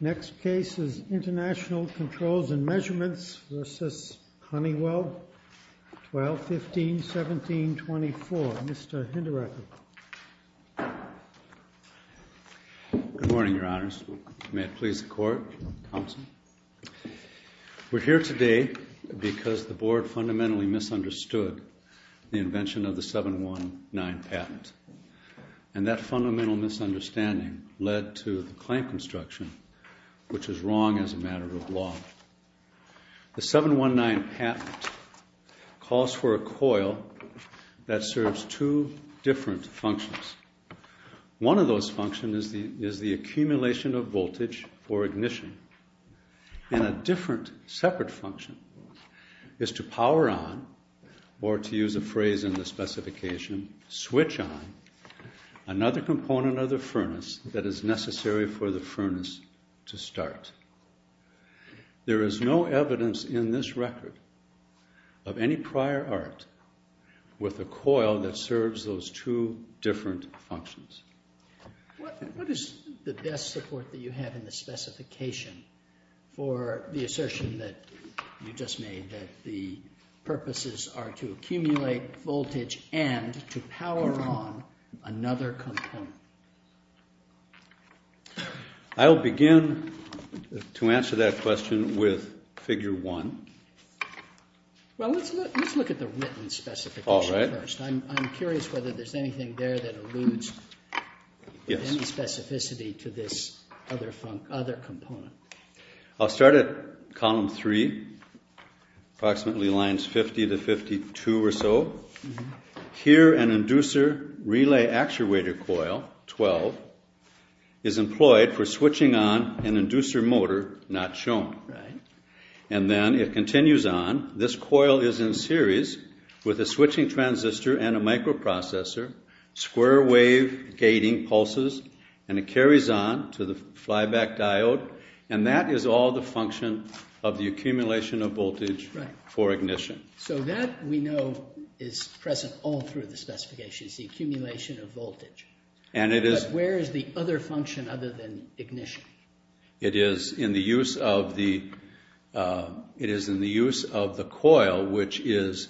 Next case is International Controls and Measurements v. Honeywell, 12-15, New York, USA. We're here today because the Board fundamentally misunderstood the invention of the 719 patent. And that fundamental misunderstanding led to the claim construction, which is wrong The 719 patent calls for a coil that serves two different functions. One of those functions is the accumulation of voltage for ignition. And a different, separate function is to power on, or to use a phrase in the specification, switch on, another component of the furnace that is necessary for the furnace to start. There is no evidence in this record of any prior art with a coil that serves those two different functions. What is the best support that you have in the specification for the assertion that you just made, that the purposes are to accumulate voltage and to power on another component? I'll begin to answer that question with Figure 1. Well, let's look at the written specification first. I'm curious whether there's anything there that alludes with any specificity to this other component. I'll start at Column 3, approximately lines 50 to 52 or so. Here an inducer relay actuator coil, 12, is employed for switching on an inducer motor, not shown. And then it continues on. This coil is in series with a switching transistor and a microprocessor, square wave gating pulses, and it carries on to the flyback diode. And that is all the function of the accumulation of voltage for ignition. So that we know is present all through the specifications, the accumulation of voltage. But where is the other function other than ignition? It is in the use of the coil, which is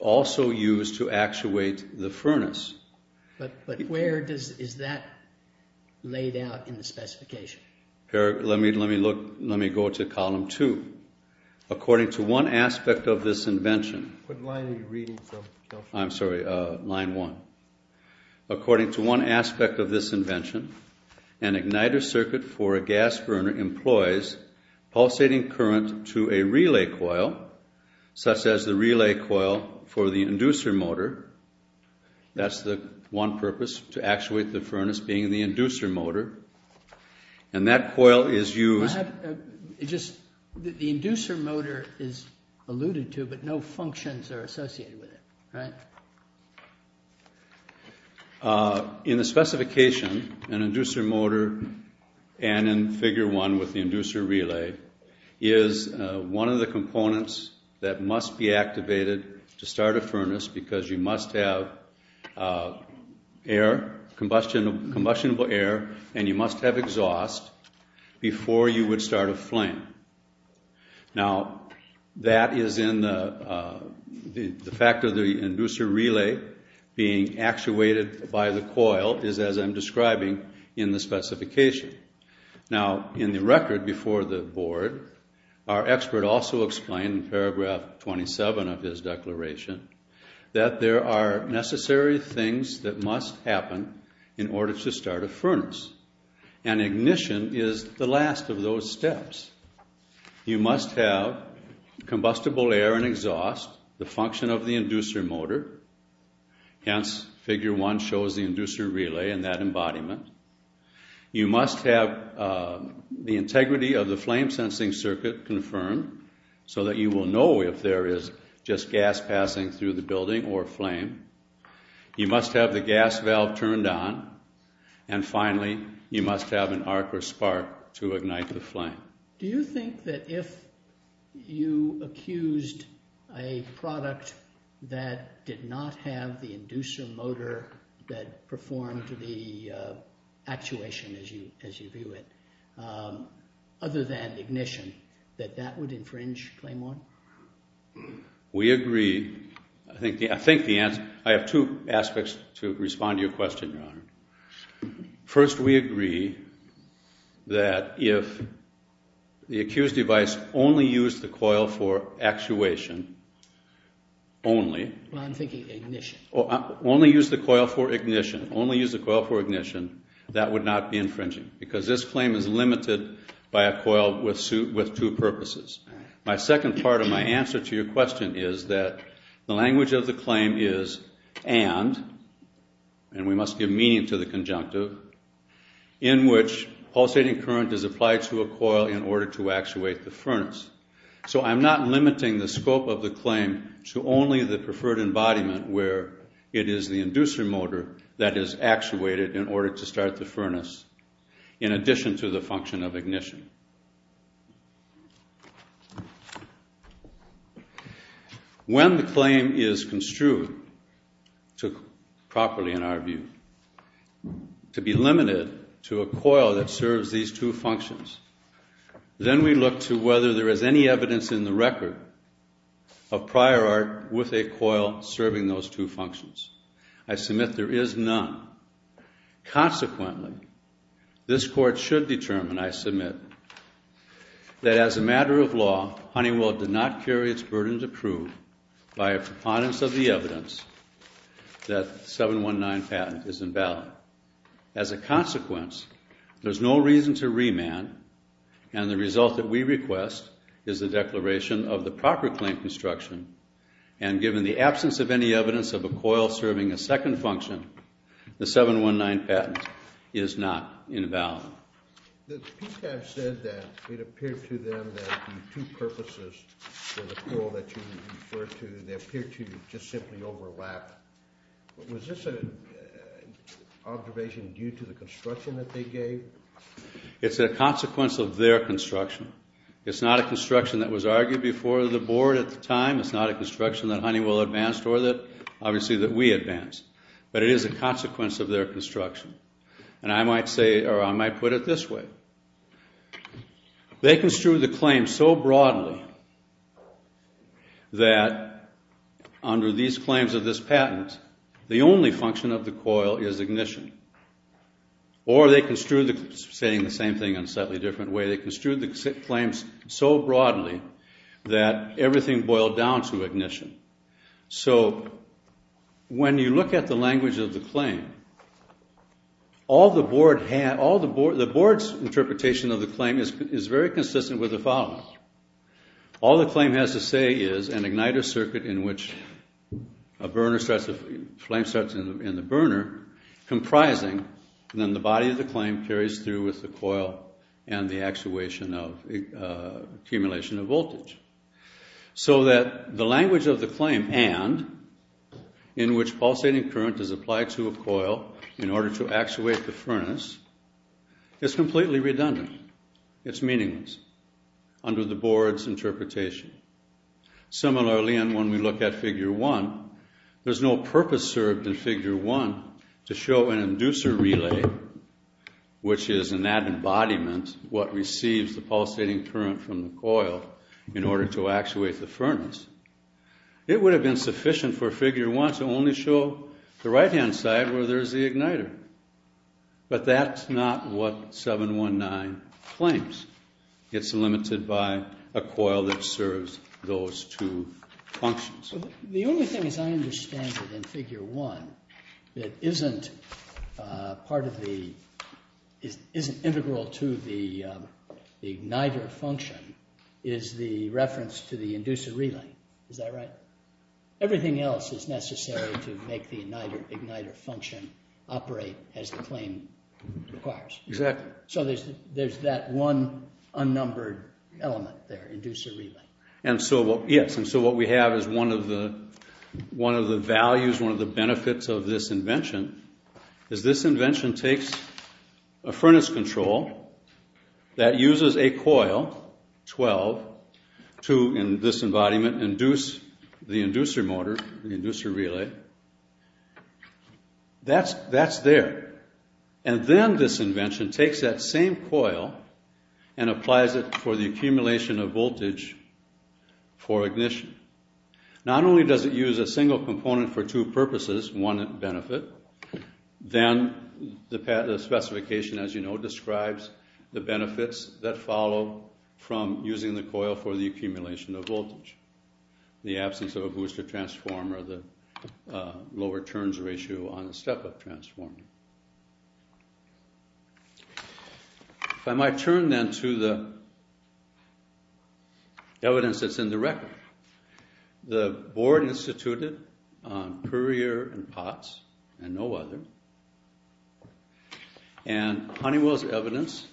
also used to actuate the furnace. But where is that laid out in the specification? Let me go to Column 2. According to one aspect of this invention... What line are you reading? I'm sorry, line 1. According to one aspect of this invention, an igniter circuit for a gas burner employs pulsating current to a relay coil, such as the relay coil for the inducer motor. That's the one purpose, to actuate the furnace, being the inducer motor. And that coil is used... The inducer motor is alluded to, but no functions are associated with it, right? In the specification, an inducer motor, and in Figure 1 with the inducer relay, is one of the components that must be activated to start a furnace because you must have air, combustible air, and you must have exhaust before you would start a flame. Now, that is in the... The fact of the inducer relay being actuated by the coil is, as I'm describing, in the specification. Now, in the record before the Board, our expert also explained in Paragraph 27 of his declaration that there are necessary things that must happen in order to start a furnace, and ignition is the last of those steps. You must have combustible air and exhaust, the function of the inducer motor. Hence, Figure 1 shows the inducer relay and that embodiment. You must have the integrity of the flame-sensing circuit confirmed so that you will know if there is just gas passing through the building or flame. You must have the gas valve turned on. And finally, you must have an arc or spark to ignite the flame. Do you think that if you accused a product that did not have the inducer motor that performed the actuation as you view it, other than ignition, that that would infringe Claim 1? We agree. I think the answer... I have two aspects to respond to your question, Your Honor. First, we agree that if the accused device only used the coil for actuation only... Well, I'm thinking ignition. Only used the coil for ignition. Only used the coil for ignition, that would not be infringing because this claim is limited by a coil with two purposes. My second part of my answer to your question is that the language of the claim is and, and we must give meaning to the conjunctive, in which pulsating current is applied to a coil in order to actuate the furnace. So I'm not limiting the scope of the claim to only the preferred embodiment where it is the inducer motor that is actuated in order to start the furnace, in addition to the function of ignition. When the claim is construed properly, in our view, to be limited to a coil that serves these two functions, then we look to whether there is any evidence in the record of prior art with a coil serving those two functions. I submit there is none. Consequently, this Court should determine, I submit, that as a matter of law, Honeywell did not carry its burden to prove by a preponderance of the evidence that the 719 patent is invalid. As a consequence, there's no reason to remand, and the result that we request is the declaration of the proper claim construction, and given the absence of any evidence of a coil serving a second function, the 719 patent is not invalid. The PCAS said that it appeared to them that the two purposes for the coil that you referred to, they appeared to just simply overlap. Was this an observation due to the construction that they gave? It's a consequence of their construction. It's not a construction that was argued before the Board at the time. It's not a construction that Honeywell advanced or that, obviously, that we advanced. But it is a consequence of their construction. And I might say, or I might put it this way. They construed the claim so broadly that under these claims of this patent, the only function of the coil is ignition. Or they construed the same thing in a slightly different way. They construed the claims so broadly that everything boiled down to ignition. So when you look at the language of the claim, the Board's interpretation of the claim is very consistent with the following. All the claim has to say is an igniter circuit in which a flame starts in the burner comprising then the body of the flame carries through with the coil and the actuation of accumulation of voltage. So that the language of the claim, and in which pulsating current is applied to a coil in order to actuate the furnace, is completely redundant. It's meaningless under the Board's interpretation. Similarly, and when we look at Figure 1, there's no purpose served in Figure 1 to show an inducer relay, which is in that embodiment what receives the pulsating current from the coil in order to actuate the furnace. It would have been sufficient for Figure 1 to only show the right-hand side where there's the igniter. But that's not what 719 claims. It's limited by a coil that serves those two functions. The only thing as I understand it in Figure 1 that isn't integral to the igniter function is the reference to the inducer relay. Is that right? Everything else is necessary to make the igniter function operate as the claim requires. Exactly. So there's that one unnumbered element there, inducer relay. Yes, and so what we have is one of the values, one of the benefits of this invention, is this invention takes a furnace control that uses a coil, 12, to, in this embodiment, induce the inducer motor, the inducer relay. That's there. And then this invention takes that same coil and applies it for the accumulation of voltage for ignition. Not only does it use a single component for two purposes, one benefit, then the specification, as you know, describes the benefits that follow in the absence of a booster transformer, the lower turns ratio on the step-up transformer. If I might turn, then, to the evidence that's in the record. The board instituted on Puryear and Potts and no other, and Honeywell's evidence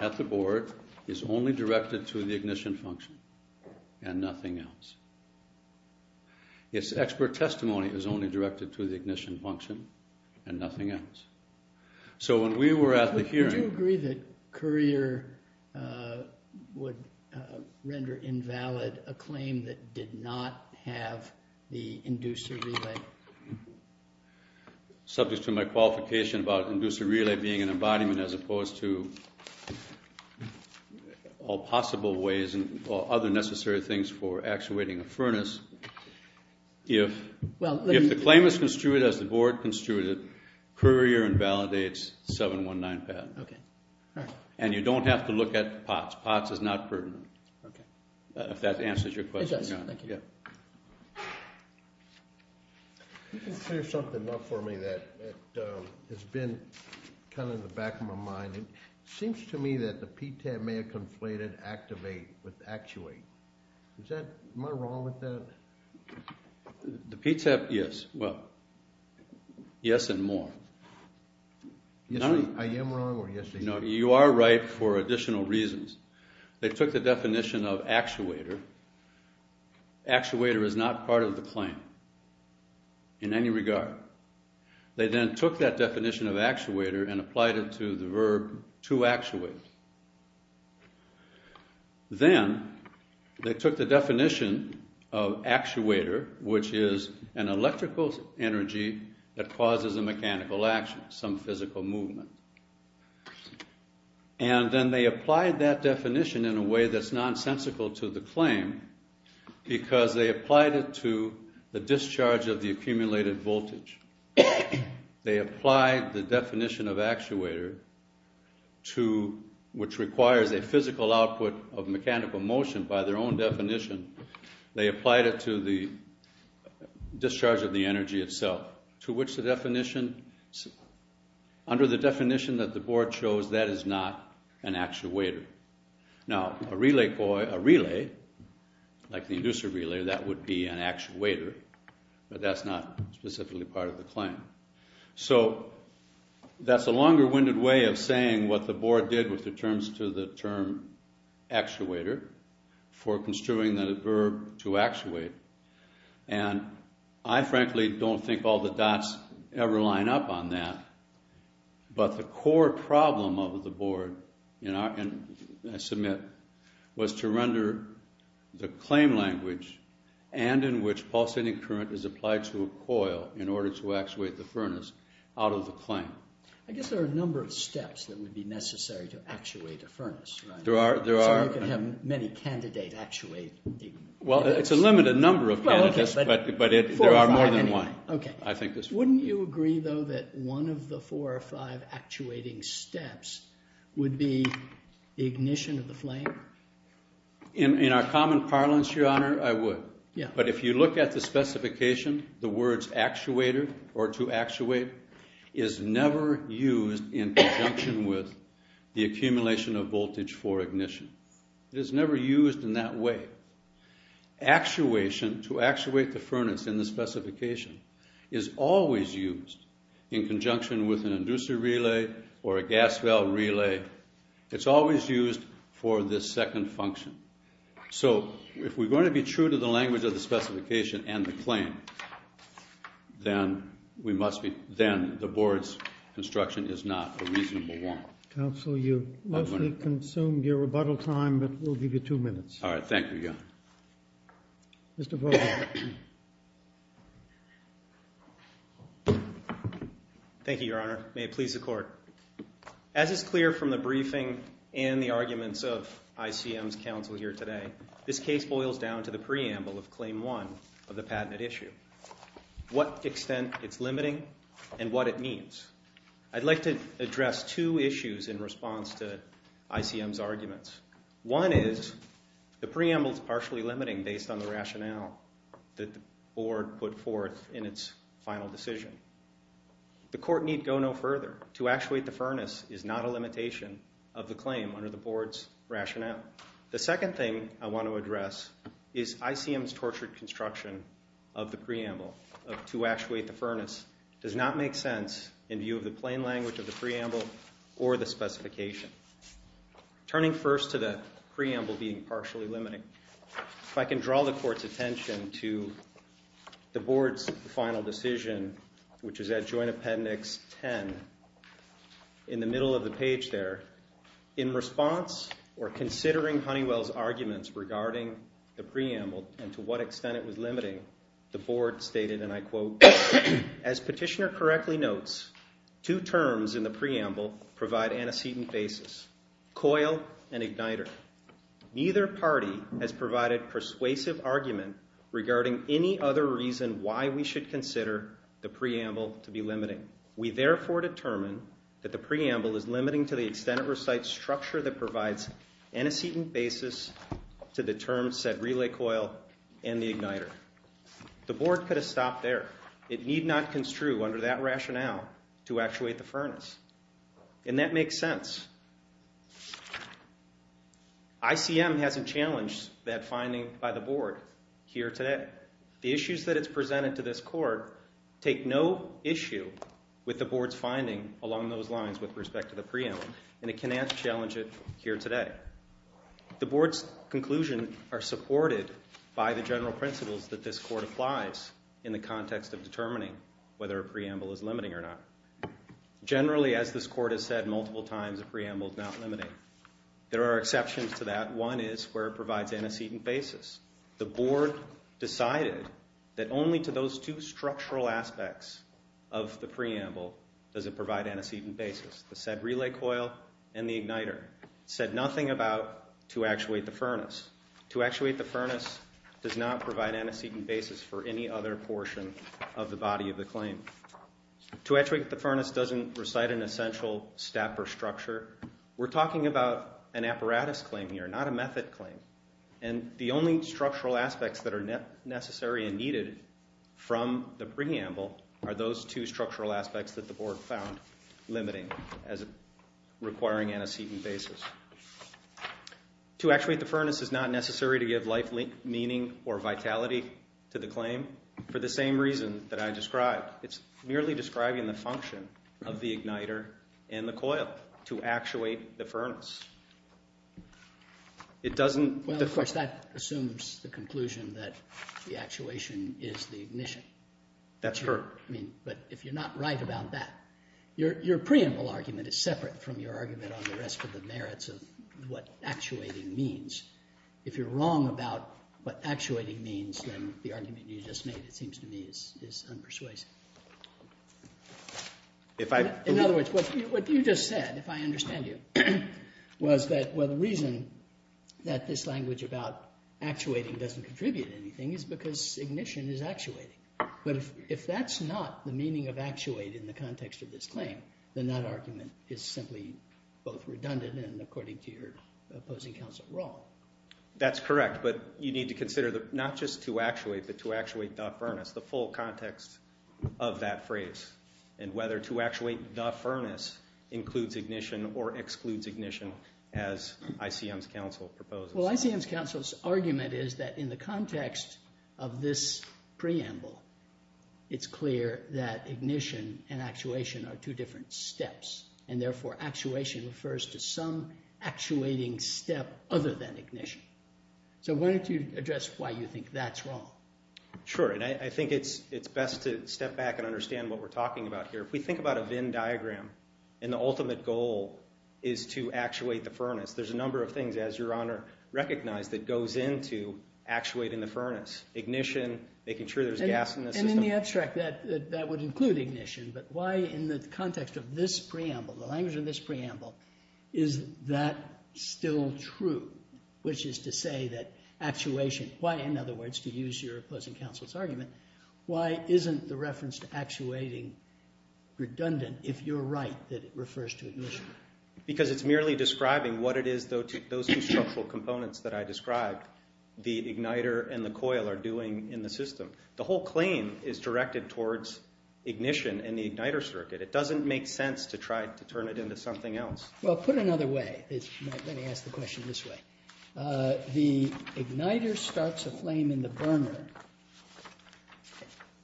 at the board is only directed to the ignition function and nothing else. Its expert testimony is only directed to the ignition function and nothing else. So when we were at the hearing... Would you agree that Courier would render invalid a claim that did not have the inducer relay? Subject to my qualification about inducer relay being an embodiment, as opposed to all possible ways and other necessary things for actuating a furnace, if the claim is construed as the board construed it, Courier invalidates 719 patent. Okay. All right. And you don't have to look at Potts. Potts is not pertinent. Okay. If that answers your question. It does. Thank you. You can clear something up for me that has been kind of in the back of my mind. It seems to me that the PTAP may have conflated activate with actuate. Am I wrong with that? The PTAP, yes. Well, yes and more. I am wrong or yes they are? No, you are right for additional reasons. They took the definition of actuator. Actuator is not part of the claim in any regard. They then took that definition of actuator and applied it to the verb to actuate. Then they took the definition of actuator, which is an electrical energy that causes a mechanical action, some physical movement. And then they applied that definition in a way that is nonsensical to the claim because they applied it to the discharge of the accumulated voltage. They applied the definition of actuator, which requires a physical output of mechanical motion by their own definition. They applied it to the discharge of the energy itself, to which the definition, under the definition that the board chose, that is not an actuator. Now, a relay, like the inducer relay, that would be an actuator, but that's not specifically part of the claim. So that's a longer-winded way of saying what the board did with the terms to the term actuator for construing the verb to actuate. And I frankly don't think all the dots ever line up on that, but the core problem of the board, and I submit, was to render the claim language and in which pulsating current is applied to a coil in order to actuate the furnace out of the claim. I guess there are a number of steps that would be necessary to actuate a furnace, right? There are. So you could have many candidates actuating. Well, it's a limited number of candidates, but there are more than one, I think. Wouldn't you agree, though, that one of the four or five actuating steps would be ignition of the flame? In our common parlance, Your Honor, I would. But if you look at the specification, the words actuator or to actuate is never used in conjunction with the accumulation of voltage for ignition. It is never used in that way. Actuation, to actuate the furnace in the specification, is always used in conjunction with an inducer relay or a gas valve relay. It's always used for this second function. So if we're going to be true to the language of the specification and the claim, then the board's construction is not a reasonable one. Counsel, you've mostly consumed your rebuttal time, but we'll give you two minutes. All right, thank you, Your Honor. Mr. Vogel. Thank you, Your Honor. May it please the court. As is clear from the briefing and the arguments of ICM's counsel here today, this case boils down to the preamble of Claim 1 of the patented issue, what extent it's limiting and what it means. I'd like to address two issues in response to ICM's arguments. One is the preamble is partially limiting based on the rationale that the board put forth in its final decision. The court need go no further. To actuate the furnace is not a limitation of the claim under the board's rationale. The second thing I want to address is ICM's tortured construction of the preamble. To actuate the furnace does not make sense in view of the plain language of the preamble or the specification. Turning first to the preamble being partially limiting, if I can draw the court's attention to the board's final decision, which is at Joint Appendix 10, in the middle of the page there, in response or considering Honeywell's arguments regarding the preamble and to what extent it was limiting, the board stated, and I quote, as petitioner correctly notes, two terms in the preamble provide antecedent basis, coil and igniter. Neither party has provided persuasive argument regarding any other reason why we should consider the preamble to be limiting. We therefore determine that the preamble is limiting to the extent it recites a structure that provides antecedent basis to the term said relay coil and the igniter. The board could have stopped there. It need not construe under that rationale to actuate the furnace. And that makes sense. ICM hasn't challenged that finding by the board here today. The issues that it's presented to this court take no issue with the board's finding along those lines with respect to the preamble, and it cannot challenge it here today. The board's conclusions are supported by the general principles that this court applies in the context of determining whether a preamble is limiting or not. Generally, as this court has said multiple times, a preamble is not limiting. There are exceptions to that. One is where it provides antecedent basis. The board decided that only to those two structural aspects of the preamble does it provide antecedent basis, the said relay coil and the igniter. It said nothing about to actuate the furnace. To actuate the furnace does not provide antecedent basis for any other portion of the body of the claim. To actuate the furnace doesn't recite an essential step or structure. We're talking about an apparatus claim here, not a method claim. And the only structural aspects that are necessary and needed from the preamble are those two structural aspects that the board found limiting as requiring antecedent basis. To actuate the furnace is not necessary to give life meaning or vitality to the claim for the same reason that I described. It's merely describing the function of the igniter and the coil to actuate the furnace. It doesn't— Well, of course, that assumes the conclusion that the actuation is the ignition. That's correct. I mean, but if you're not right about that, your preamble argument is separate from your argument on the rest of the merits of what actuating means. If you're wrong about what actuating means, then the argument you just made, it seems to me, is unpersuasive. If I— In other words, what you just said, if I understand you, was that, well, the reason that this language about actuating doesn't contribute anything is because ignition is actuating. But if that's not the meaning of actuate in the context of this claim, then that argument is simply both redundant and according to your opposing counsel wrong. That's correct, but you need to consider not just to actuate, but to actuate the furnace, the full context of that phrase and whether to actuate the furnace includes ignition or excludes ignition as ICM's counsel proposes. Well, ICM's counsel's argument is that in the context of this preamble, it's clear that ignition and actuation are two different steps, and therefore actuation refers to some actuating step other than ignition. So why don't you address why you think that's wrong? Sure, and I think it's best to step back and understand what we're talking about here. If we think about a Venn diagram and the ultimate goal is to actuate the furnace, there's a number of things, as Your Honor recognized, that goes into actuating the furnace. Ignition, making sure there's gas in the system. And in the abstract, that would include ignition, but why in the context of this preamble, the language in this preamble, is that still true, which is to say that actuation, why, in other words, to use your opposing counsel's argument, why isn't the reference to actuating redundant if you're right that it refers to ignition? Because it's merely describing what it is those two structural components that I described, the igniter and the coil, are doing in the system. The whole claim is directed towards ignition and the igniter circuit. It doesn't make sense to try to turn it into something else. Well, put it another way. Let me ask the question this way. The igniter starts a flame in the burner.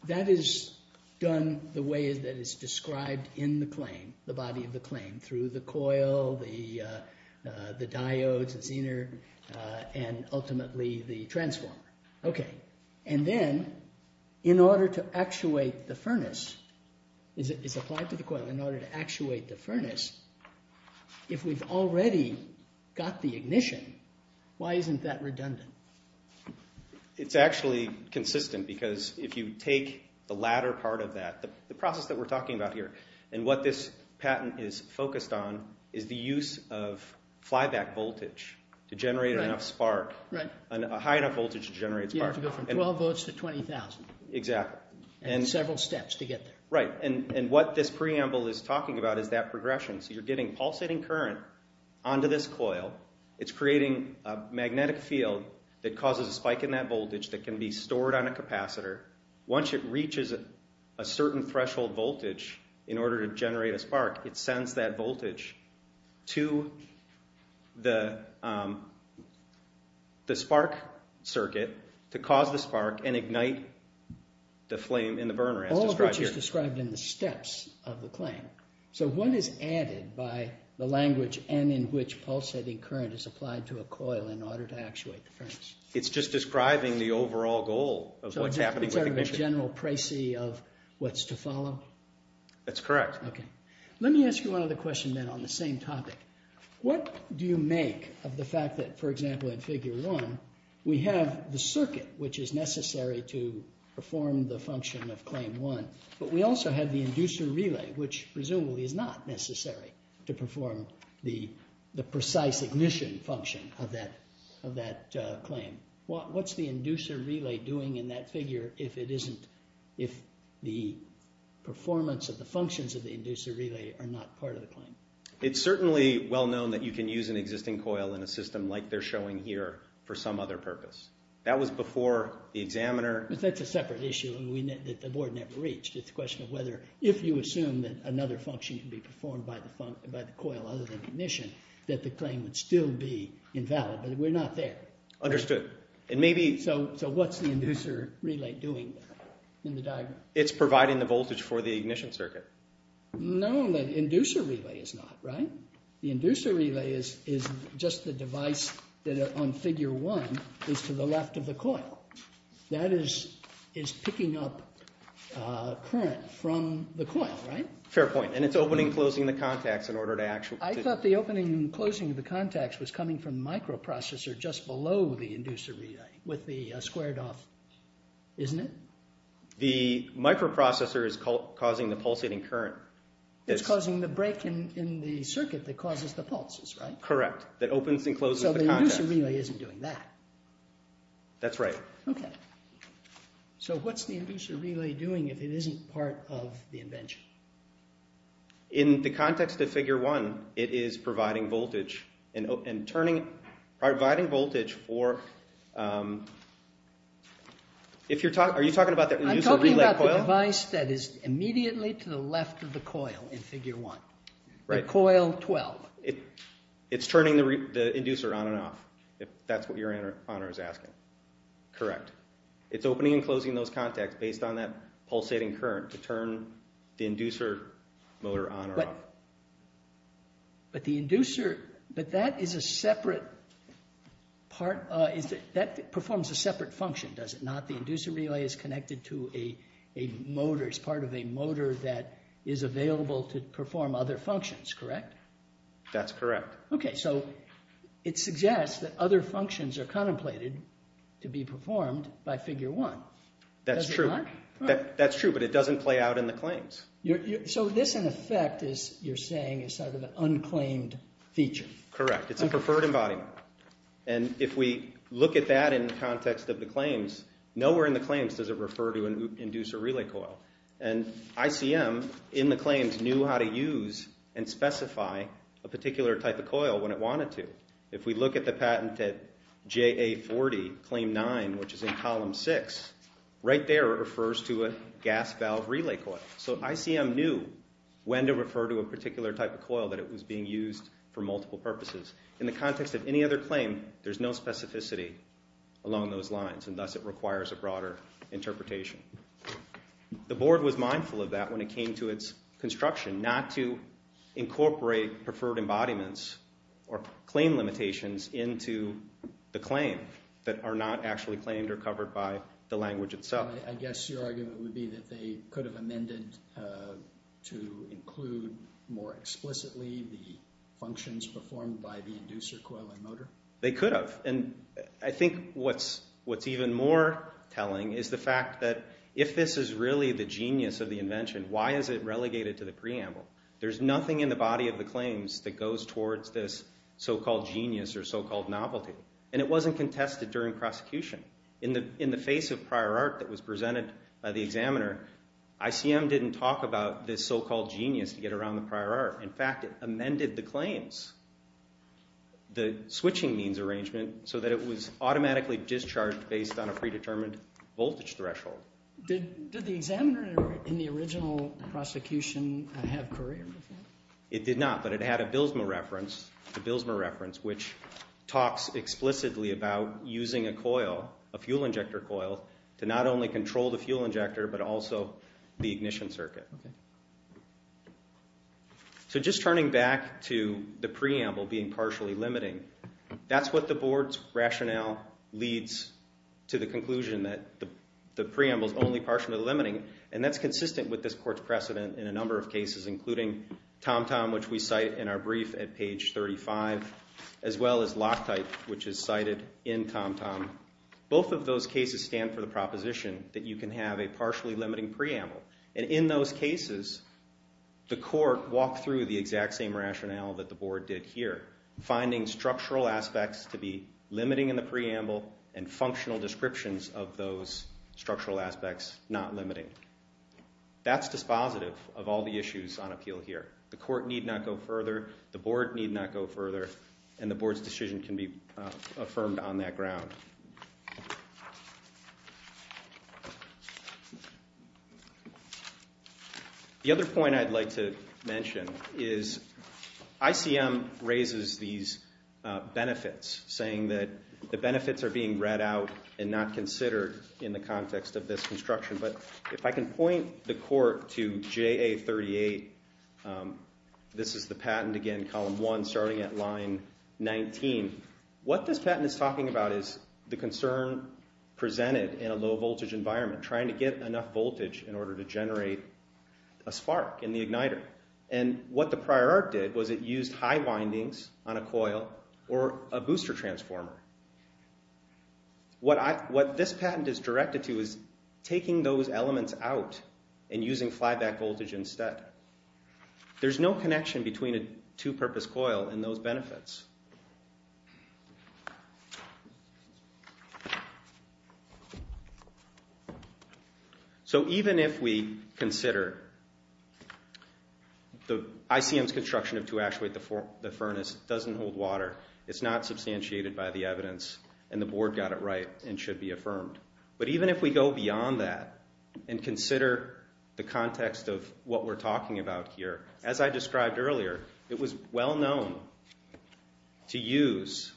That is done the way that is described in the claim, the body of the claim, through the coil, the diodes, the zener, and ultimately the transformer. Okay, and then in order to actuate the furnace, it's applied to the coil, in order to actuate the furnace, if we've already got the ignition, why isn't that redundant? It's actually consistent because if you take the latter part of that, the process that we're talking about here, and what this patent is focused on is the use of flyback voltage to generate enough spark, a high enough voltage to generate spark. You have to go from 12 volts to 20,000. Exactly. And several steps to get there. Right, and what this preamble is talking about is that progression. So you're getting pulsating current onto this coil. It's creating a magnetic field that causes a spike in that voltage that can be stored on a capacitor. Once it reaches a certain threshold voltage in order to generate a spark, it sends that voltage to the spark circuit to cause the spark and ignite the flame in the burner as described here. All of which is described in the steps of the claim. So what is added by the language and in which pulsating current is applied to a coil in order to actuate the furnace? It's just describing the overall goal of what's happening with the ignition. Sort of a general precis of what's to follow? That's correct. Okay. Let me ask you one other question then on the same topic. What do you make of the fact that, for example, in Figure 1, we have the circuit which is necessary to perform the function of Claim 1, but we also have the inducer relay which presumably is not necessary to perform the precise ignition function of that claim. What's the inducer relay doing in that figure if the performance of the functions of the inducer relay are not part of the claim? It's certainly well known that you can use an existing coil in a system like they're showing here for some other purpose. That was before the examiner... If you assume that another function can be performed by the coil other than ignition, that the claim would still be invalid, but we're not there. Understood. So what's the inducer relay doing in the diagram? It's providing the voltage for the ignition circuit. No, the inducer relay is not, right? The inducer relay is just the device that on Figure 1 is to the left of the coil. That is picking up current from the coil, right? Fair point, and it's opening and closing the contacts in order to actually... I thought the opening and closing of the contacts was coming from the microprocessor just below the inducer relay with the squared off... isn't it? The microprocessor is causing the pulsating current. It's causing the break in the circuit that causes the pulses, right? Correct, that opens and closes the contacts. So the inducer relay isn't doing that. That's right. Okay. So what's the inducer relay doing if it isn't part of the invention? In the context of Figure 1, it is providing voltage and turning... providing voltage for... if you're talking... are you talking about the inducer relay coil? I'm talking about the device that is immediately to the left of the coil in Figure 1. Right. The coil 12. It's turning the inducer on and off, if that's what your honor is asking. Correct. It's opening and closing those contacts based on that pulsating current to turn the inducer motor on or off. But the inducer... but that is a separate part... that performs a separate function, does it not? The inducer relay is connected to a motor. It's part of a motor that is available to perform other functions, correct? That's correct. Okay. So it suggests that other functions are contemplated to be performed by Figure 1. That's true. Does it not? That's true, but it doesn't play out in the claims. So this, in effect, is... you're saying is sort of an unclaimed feature. Correct. And if we look at that in the context of the claims, nowhere in the claims does it refer to an inducer relay coil. And ICM, in the claims, knew how to use and specify a particular type of coil when it wanted to. If we look at the patent at JA40, Claim 9, which is in Column 6, right there it refers to a gas valve relay coil. So ICM knew when to refer to a particular type of coil that it was being used for multiple purposes. In the context of any other claim, there's no specificity along those lines, and thus it requires a broader interpretation. The Board was mindful of that when it came to its construction, not to incorporate preferred embodiments or claim limitations into the claim that are not actually claimed or covered by the language itself. I guess your argument would be that they could have amended to include more explicitly the functions performed by the inducer coil and motor? They could have. And I think what's even more telling is the fact that if this is really the genius of the invention, why is it relegated to the preamble? There's nothing in the body of the claims that goes towards this so-called genius or so-called novelty. And it wasn't contested during prosecution. In the face of prior art that was presented by the examiner, ICM didn't talk about this so-called genius to get around the prior art. In fact, it amended the claims. The switching means arrangement so that it was automatically discharged based on a predetermined voltage threshold. Did the examiner in the original prosecution have courier with that? It did not, but it had a Bilsma reference, the Bilsma reference which talks explicitly about using a coil, a fuel injector coil, to not only control the fuel injector but also the ignition circuit. So just turning back to the preamble being partially limiting, that's what the board's rationale leads to the conclusion that the preamble is only partially limiting, and that's consistent with this court's precedent in a number of cases including TomTom, which we cite in our brief at page 35, as well as Loctite, which is cited in TomTom. Both of those cases stand for the proposition that you can have a partially limiting preamble. And in those cases, the court walked through the exact same rationale that the board did here, finding structural aspects to be limiting in the preamble and functional descriptions of those structural aspects not limiting. That's dispositive of all the issues on appeal here. The court need not go further, the board need not go further, and the board's decision can be affirmed on that ground. The other point I'd like to mention is ICM raises these benefits, saying that the benefits are being read out and not considered in the context of this construction. But if I can point the court to JA38, this is the patent again, column 1, starting at line 19. What this patent is talking about is the concern presented in a low-voltage environment, trying to get enough voltage in order to generate a spark in the igniter. And what the prior art did was it used high windings on a coil or a booster transformer. What this patent is directed to is taking those elements out and using flyback voltage instead. There's no connection between a two-purpose coil and those benefits. So even if we consider ICM's construction of two-actuate the furnace doesn't hold water, it's not substantiated by the evidence, and the board got it right and should be affirmed. But even if we go beyond that and consider the context of what we're talking about here, as I described earlier, it was well-known that a two-actuate furnace to use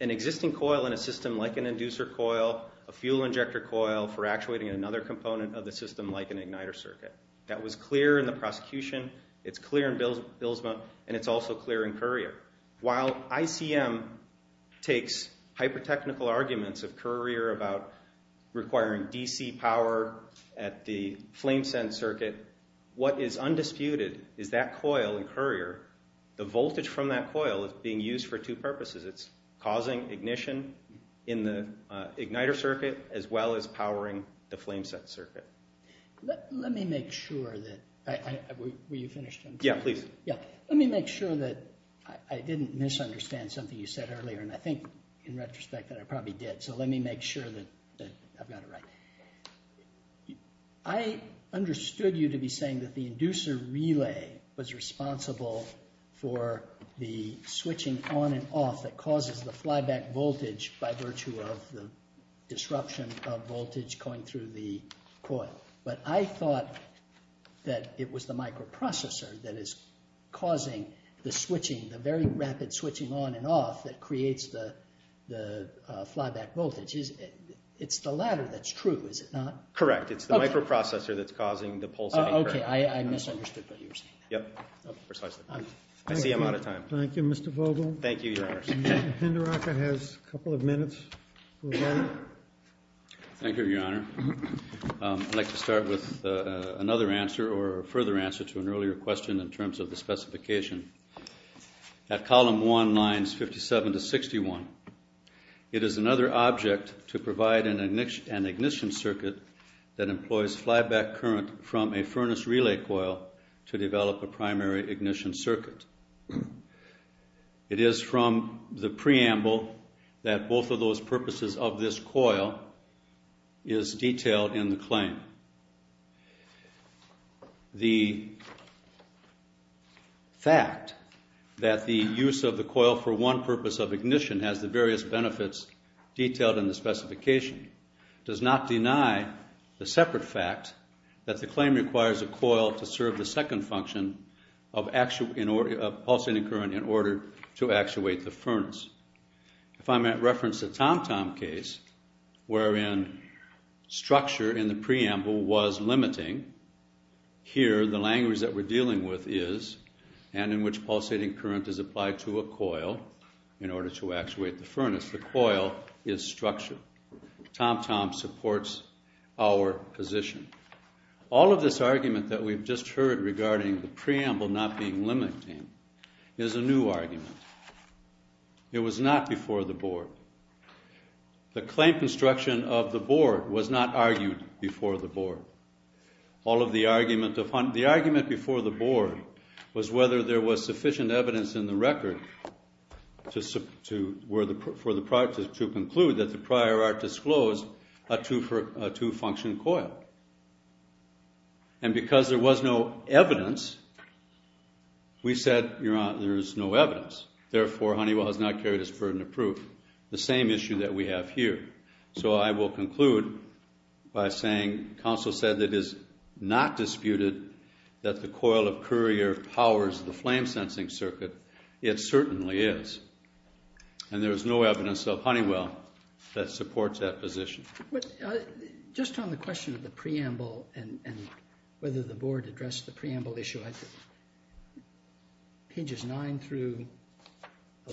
an existing coil in a system like an inducer coil, a fuel injector coil, for actuating another component of the system like an igniter circuit. That was clear in the prosecution, it's clear in Bilsma, and it's also clear in Currier. While ICM takes hyper-technical arguments of Currier about requiring DC power at the flame send circuit, what is undisputed is that coil in Currier, the voltage from that coil is being used for two purposes. It's causing ignition in the igniter circuit as well as powering the flame send circuit. Let me make sure that... Were you finished? Yeah, please. Let me make sure that I didn't misunderstand something you said earlier, and I think in retrospect that I probably did. So let me make sure that I've got it right. I understood you to be saying that the inducer relay was responsible for the switching on and off that causes the flyback voltage by virtue of the disruption of voltage going through the coil. But I thought that it was the microprocessor that is causing the switching, the very rapid switching on and off that creates the flyback voltage. It's the latter that's true, is it not? Correct, it's the microprocessor that's causing the pulsating current. Okay, I misunderstood what you were saying. Yep, precisely. I see I'm out of time. Thank you, Mr. Vogel. Thank you, Your Honor. Mr. Penderaka has a couple of minutes. Thank you, Your Honor. I'd like to start with another answer or a further answer to an earlier question in terms of the specification. At column 1, lines 57 to 61, it is another object to provide an ignition circuit that employs flyback current from a furnace relay coil to develop a primary ignition circuit. It is from the preamble that both of those purposes of this coil is detailed in the claim. The fact that the use of the coil for one purpose of ignition has the various benefits detailed in the specification does not deny the separate fact that the claim requires a coil to serve the second function of pulsating current in order to actuate the furnace. If I may reference the Tom-Tom case, wherein structure in the preamble was limiting, here the language that we're dealing with is and in which pulsating current is applied to a coil in order to actuate the furnace. The coil is structure. Tom-Tom supports our position. All of this argument that we've just heard regarding the preamble not being limiting is a new argument. It was not before the board. The claim construction of the board was not argued before the board. All of the argument... The argument before the board was whether there was sufficient evidence in the record to conclude that the prior art disclosed a two-function coil. And because there was no evidence, we said there is no evidence. Therefore, Honeywell has not carried its burden of proof. The same issue that we have here. So I will conclude by saying counsel said that it is not disputed that the coil of courier powers the flame-sensing circuit. It certainly is. And there is no evidence of Honeywell that supports that position. But just on the question of the preamble and whether the board addressed the preamble issue, I think pages 9 through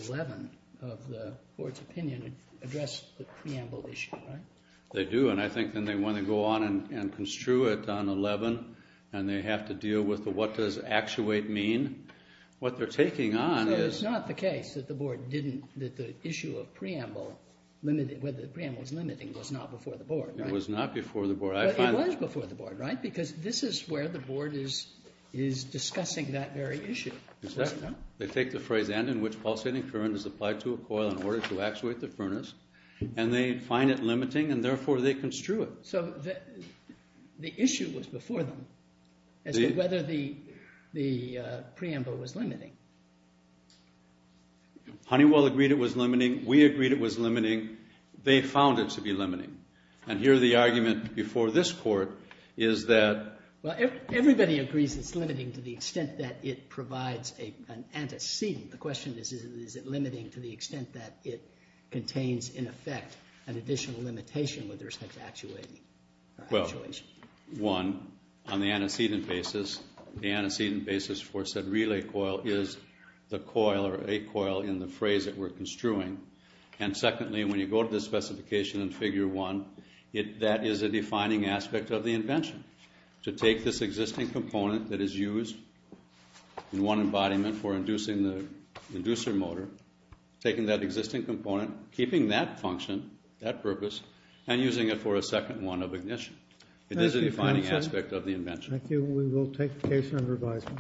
11 of the board's opinion address the preamble issue, right? They do, and I think then they want to go on and construe it on 11, and they have to deal with the what does actuate mean. What they're taking on is... So it's not the case that the board didn't... that the issue of preamble, whether the preamble was limiting, was not before the board, right? It was not before the board. But it was before the board, right? Because this is where the board is discussing that very issue. Exactly. They take the phrase and in which pulsating current is applied to a coil in order to actuate the furnace, and they find it limiting, and therefore they construe it. So the issue was before them as to whether the preamble was limiting. Honeywell agreed it was limiting. We agreed it was limiting. They found it to be limiting. And here the argument before this court is that... Well, everybody agrees it's limiting to the extent that it provides an antecedent. The question is is it limiting to the extent that it contains in effect an additional limitation with respect to actuating. Well, one, on the antecedent basis, the antecedent basis for said relay coil is the coil or a coil in the phrase that we're construing. And secondly, when you go to the specification in Figure 1, that is a defining aspect of the invention, to take this existing component that is used in one embodiment for inducing the inducer motor, taking that existing component, keeping that function, that purpose, and using it for a second one of ignition. It is a defining aspect of the invention. Thank you. We will take the case under advisement.